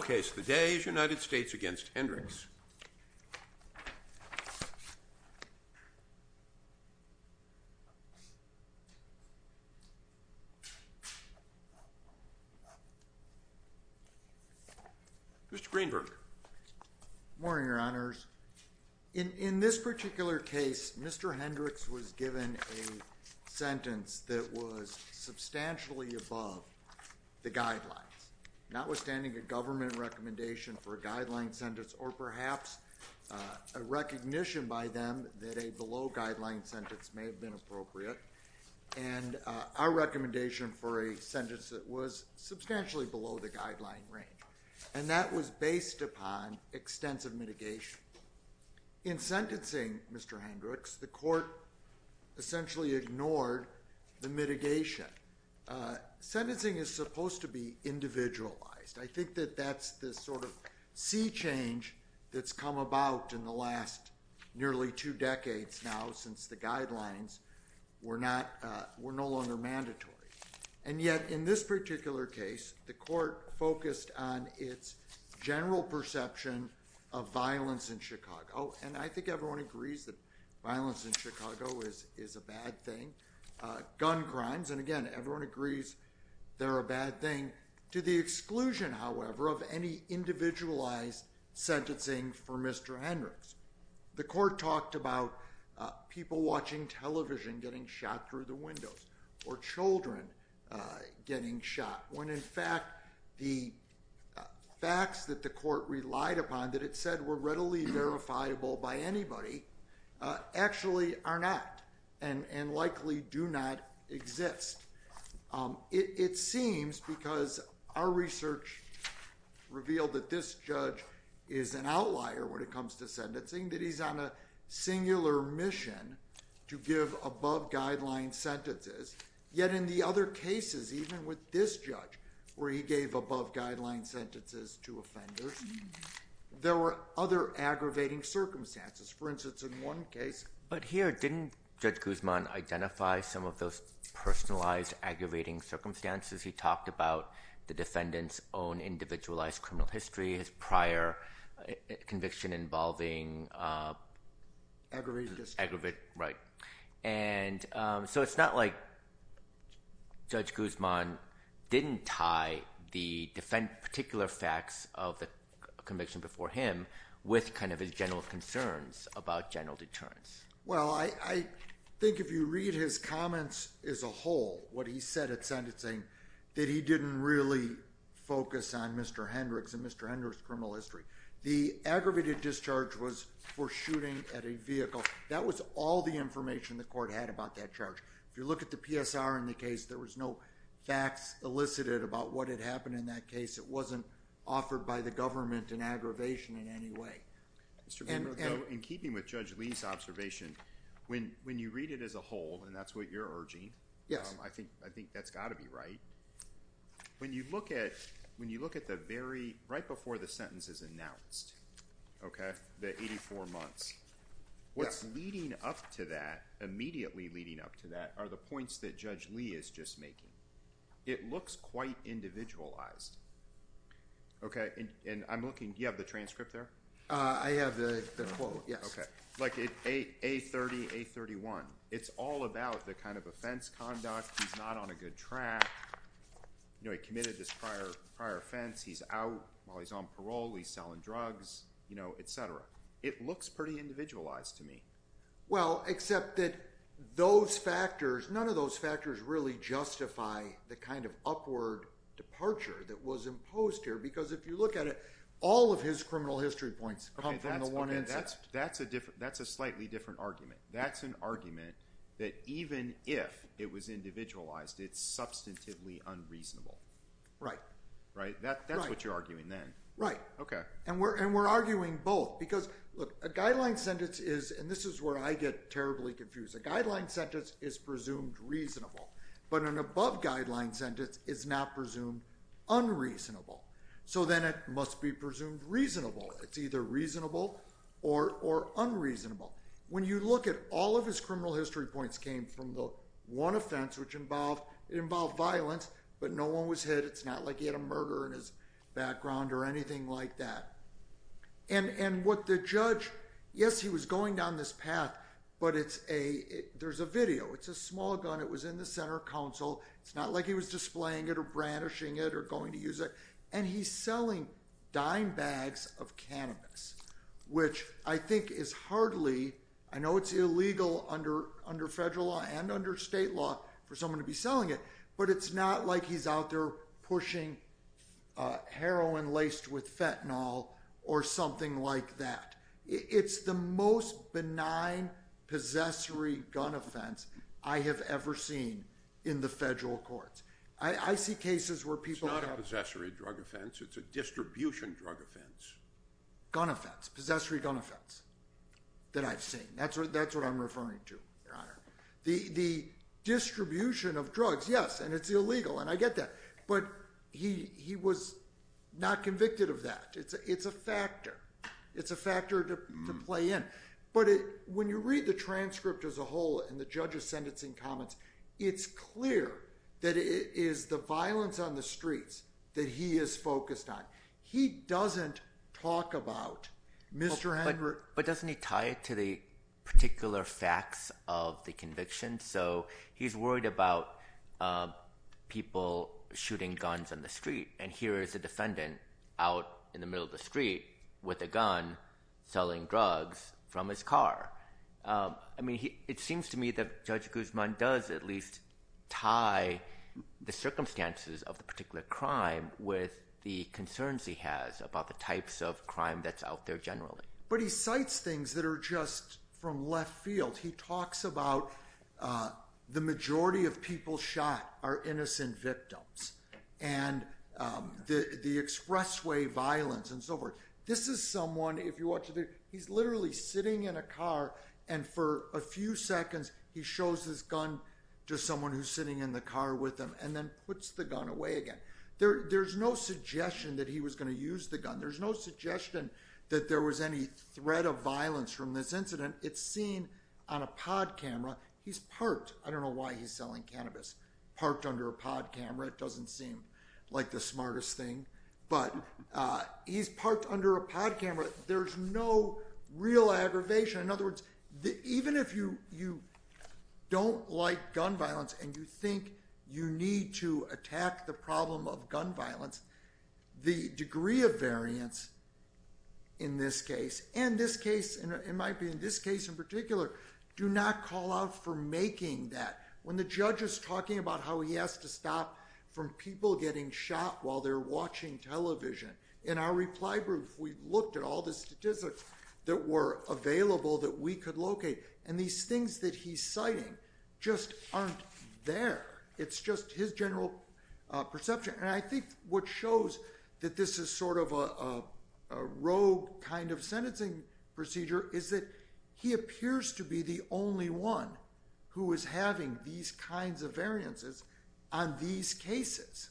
The case of the day is United States v. Hendrix. Mr. Greenberg. Good morning, Your Honors. In this particular case, Mr. Hendrix was given a sentence that was substantially above the guideline recommendation for a guideline sentence, or perhaps a recognition by them that a below-guideline sentence may have been appropriate, and our recommendation for a sentence that was substantially below the guideline range. And that was based upon extensive mitigation. In sentencing, Mr. Hendrix, the court essentially ignored the mitigation. Sentencing is supposed to be individualized. I think that that's the sort of sea change that's come about in the last nearly two decades now since the guidelines were no longer mandatory. And yet, in this particular case, the court focused on its general perception of violence in Chicago. And I think everyone agrees that violence in Chicago is a bad thing. Gun crimes. And again, everyone agrees they're a bad thing. To the exclusion, however, of any individualized sentencing for Mr. Hendrix. The court talked about people watching television getting shot through the windows, or children getting shot, when in fact the facts that the court relied upon that it said were readily verifiable by anybody actually are not, and likely do not exist. It seems, because our research revealed that this judge is an outlier when it comes to sentencing, that he's on a singular mission to give above guideline sentences. Yet in the other cases, even with this judge, where he gave above guideline sentences to offenders, there were other aggravating circumstances. For instance, in one case... He talked about the defendant's own individualized criminal history, his prior conviction involving aggravated... Aggravated. Aggravated. Right. And so it's not like Judge Guzman didn't tie the particular facts of the conviction before him with his general concerns about general deterrence. Well, I think if you read his comments as a whole, what he said at sentencing, that he didn't really focus on Mr. Hendrix and Mr. Hendrix's criminal history. The aggravated discharge was for shooting at a vehicle. That was all the information the court had about that charge. If you look at the PSR in the case, there was no facts elicited about what had happened in that case. It wasn't offered by the government in aggravation in any way. Mr. VanBurke, in keeping with Judge Lee's observation, when you read it as a whole, and that's what you're urging... Yes. I think that's got to be right. When you look at the very... right before the sentence is announced, okay, the 84 months, what's leading up to that, immediately leading up to that, are the points that Judge Lee is just making. It looks quite individualized, okay? And I'm looking... do you have the transcript there? I have the quote. Yes. Okay. Like A30, A31. It's all about the kind of offense conduct, he's not on a good track, you know, he committed this prior offense, he's out while he's on parole, he's selling drugs, you know, etc. It looks pretty individualized to me. Well, except that those factors... none of those factors really justify the kind of upward departure that was imposed here. Because if you look at it, all of his criminal history points come from the one incident. That's a different... that's a slightly different argument. That's an argument that even if it was individualized, it's substantively unreasonable. Right. Right? Right. That's what you're arguing then. Right. Okay. And we're arguing both because, look, a guideline sentence is... and this is where I get terribly confused. A guideline sentence is presumed reasonable, but an above guideline sentence is not presumed unreasonable. So then it must be presumed reasonable. It's either reasonable or unreasonable. When you look at all of his criminal history points came from the one offense, which involved... it involved violence, but no one was hit. It's not like he had a murder in his background or anything like that. And what the judge... yes, he was going down this path, but it's a... there's a video. It's a small gun. It was in the center council. It's not like he was displaying it or brandishing it or going to use it. And he's selling dime bags of cannabis, which I think is hardly... I know it's illegal under federal law and under state law for someone to be selling it, but it's not like he's out there pushing heroin laced with fentanyl or something like that. It's the most benign possessory gun offense I have ever seen in the federal courts. I see cases where people have... It's not a possessory drug offense. It's a distribution drug offense. Gun offense. Possessory gun offense that I've seen. That's what I'm referring to, Your Honor. The distribution of drugs, yes, and it's illegal, and I get that, but he was not convicted of that. It's a factor. It's a factor to play in, but when you read the transcript as a whole and the judge's sentencing comments, it's clear that it is the violence on the streets that he is focused on. He doesn't talk about Mr. Hendrick... But doesn't he tie it to the particular facts of the conviction? So he's worried about people shooting guns on the street, and here is a defendant out in the middle of the street with a gun selling drugs from his car. It seems to me that Judge Guzman does at least tie the circumstances of the particular crime with the concerns he has about the types of crime that's out there generally. But he cites things that are just from left field. He talks about the majority of people shot are innocent victims, and the expressway violence and so forth. This is someone, if you watch the video, he's literally sitting in a car, and for a few seconds he shows his gun to someone who's sitting in the car with him and then puts the gun away again. There's no suggestion that he was going to use the gun. There's no suggestion that there was any threat of violence from this incident. It's seen on a pod camera. He's parked. I don't know why he's selling cannabis. Parked under a pod camera. It doesn't seem like the smartest thing. But he's parked under a pod camera. There's no real aggravation. In other words, even if you don't like gun violence and you think you need to attack the problem of gun violence, the degree of variance in this case, and this case, it might be in this case in particular, do not call out for making that. When the judge is talking about how he has to stop from people getting shot while they're watching television, in our reply group we looked at all the statistics that were available that we could locate, and these things that he's citing just aren't there. It's just his general perception. I think what shows that this is sort of a rogue kind of sentencing procedure is that he appears to be the only one who is having these kinds of variances on these cases,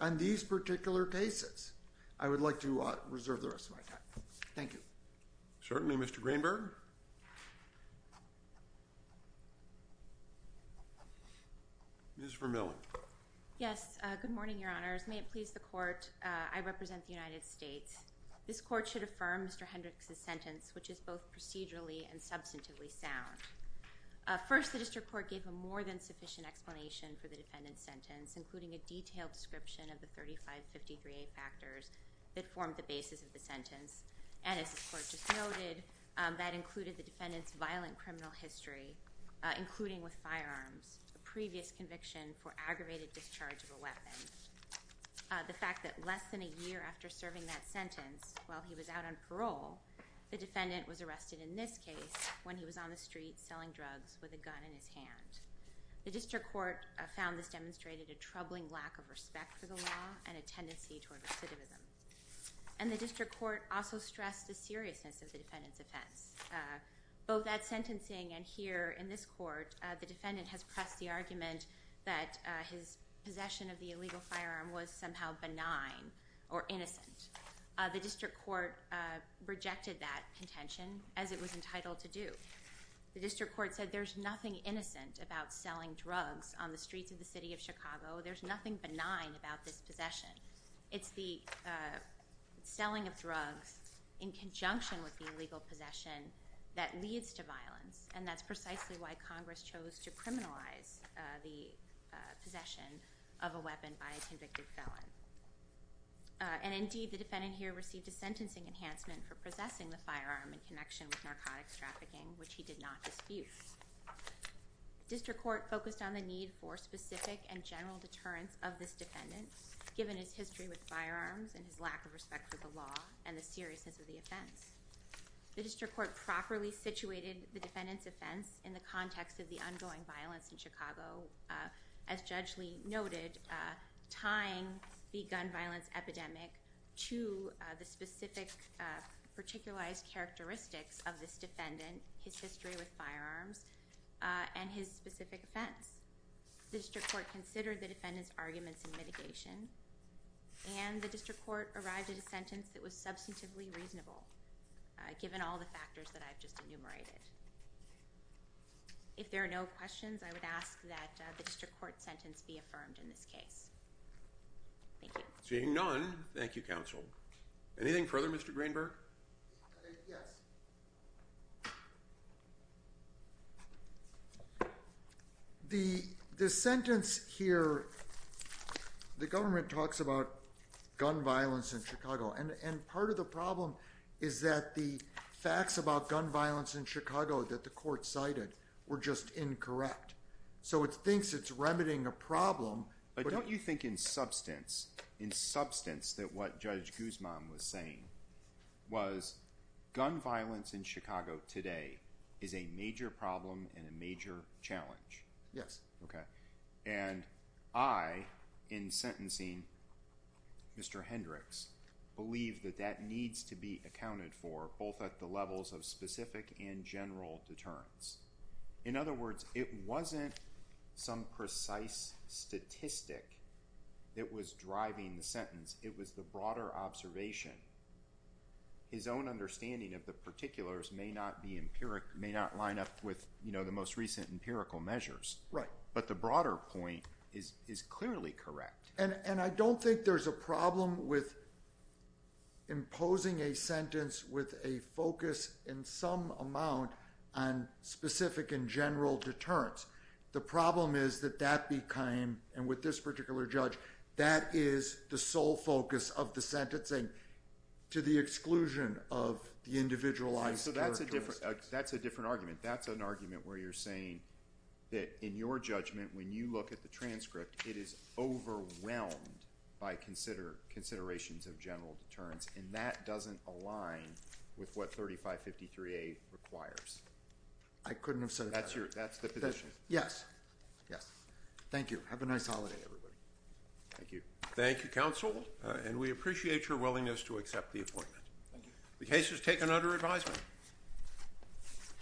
on these particular cases. I would like to reserve the rest of my time. Thank you. Certainly, Mr. Greenberg. Ms. Vermillion. Yes. Good morning, Your Honor. Good morning, Your Honors. May it please the court, I represent the United States. This court should affirm Mr. Hendricks' sentence, which is both procedurally and substantively sound. First, the district court gave a more than sufficient explanation for the defendant's sentence, including a detailed description of the 3553A factors that formed the basis of the sentence, and as the court just noted, that included the defendant's violent criminal history, including with firearms, the previous conviction for aggravated discharge of a weapon. The fact that less than a year after serving that sentence, while he was out on parole, the defendant was arrested in this case when he was on the street selling drugs with a gun in his hand. The district court found this demonstrated a troubling lack of respect for the law and a tendency toward recidivism. And the district court also stressed the seriousness of the defendant's offense. Both at sentencing and here in this court, the defendant has pressed the argument that his possession of the illegal firearm was somehow benign or innocent. The district court rejected that contention, as it was entitled to do. The district court said there's nothing innocent about selling drugs on the streets of the city of Chicago. There's nothing benign about this possession. It's the selling of drugs in conjunction with the illegal possession that leads to violence, and that's precisely why Congress chose to criminalize the possession of a weapon by a convicted felon. And indeed, the defendant here received a sentencing enhancement for possessing the firearm in connection with narcotics trafficking, which he did not dispute. District court focused on the need for specific and general deterrence of this defendant, given his history with firearms and his lack of respect for the law and the seriousness of the offense. The district court properly situated the defendant's offense in the context of the ongoing violence in Chicago, as Judge Lee noted, tying the gun violence epidemic to the specific particularized characteristics of this defendant, his history with firearms, and his specific offense. The district court considered the defendant's arguments in mitigation, and the district court arrived at a sentence that was substantively reasonable, given all the factors that I've just enumerated. If there are no questions, I would ask that the district court sentence be affirmed in this case. Thank you. Seeing none, thank you, counsel. Anything further, Mr. Greenberg? Yes. The sentence here, the government talks about gun violence in Chicago, and part of the problem is that the facts about gun violence in Chicago that the court cited were just incorrect. So it thinks it's remedying a problem. But don't you think in substance, in substance that what Judge Guzman was saying was gun violence in Chicago today is a major problem and a major challenge? Yes. And I, in sentencing Mr. Hendricks, believe that that needs to be accounted for, both at the levels of specific and general deterrence. In other words, it wasn't some precise statistic that was driving the sentence. It was the broader observation. His own understanding of the particulars may not be empiric, may not line up with, you know, the most recent empirical measures. Right. But the broader point is clearly correct. And I don't think there's a problem with imposing a sentence with a focus in some amount on specific and general deterrence. The problem is that that became, and with this particular judge, that is the sole focus of the sentencing, to the exclusion of the individualized characteristics. So that's a different argument. That's an argument where you're saying that in your judgment when you look at the transcript it is overwhelmed by considerations of general deterrence. And that doesn't align with what 3553A requires. I couldn't have said it better. That's the position. Yes. Yes. Thank you. Have a nice holiday everybody. Thank you. Thank you, counsel. And we appreciate your willingness to accept the appointment. The case is taken under advisement.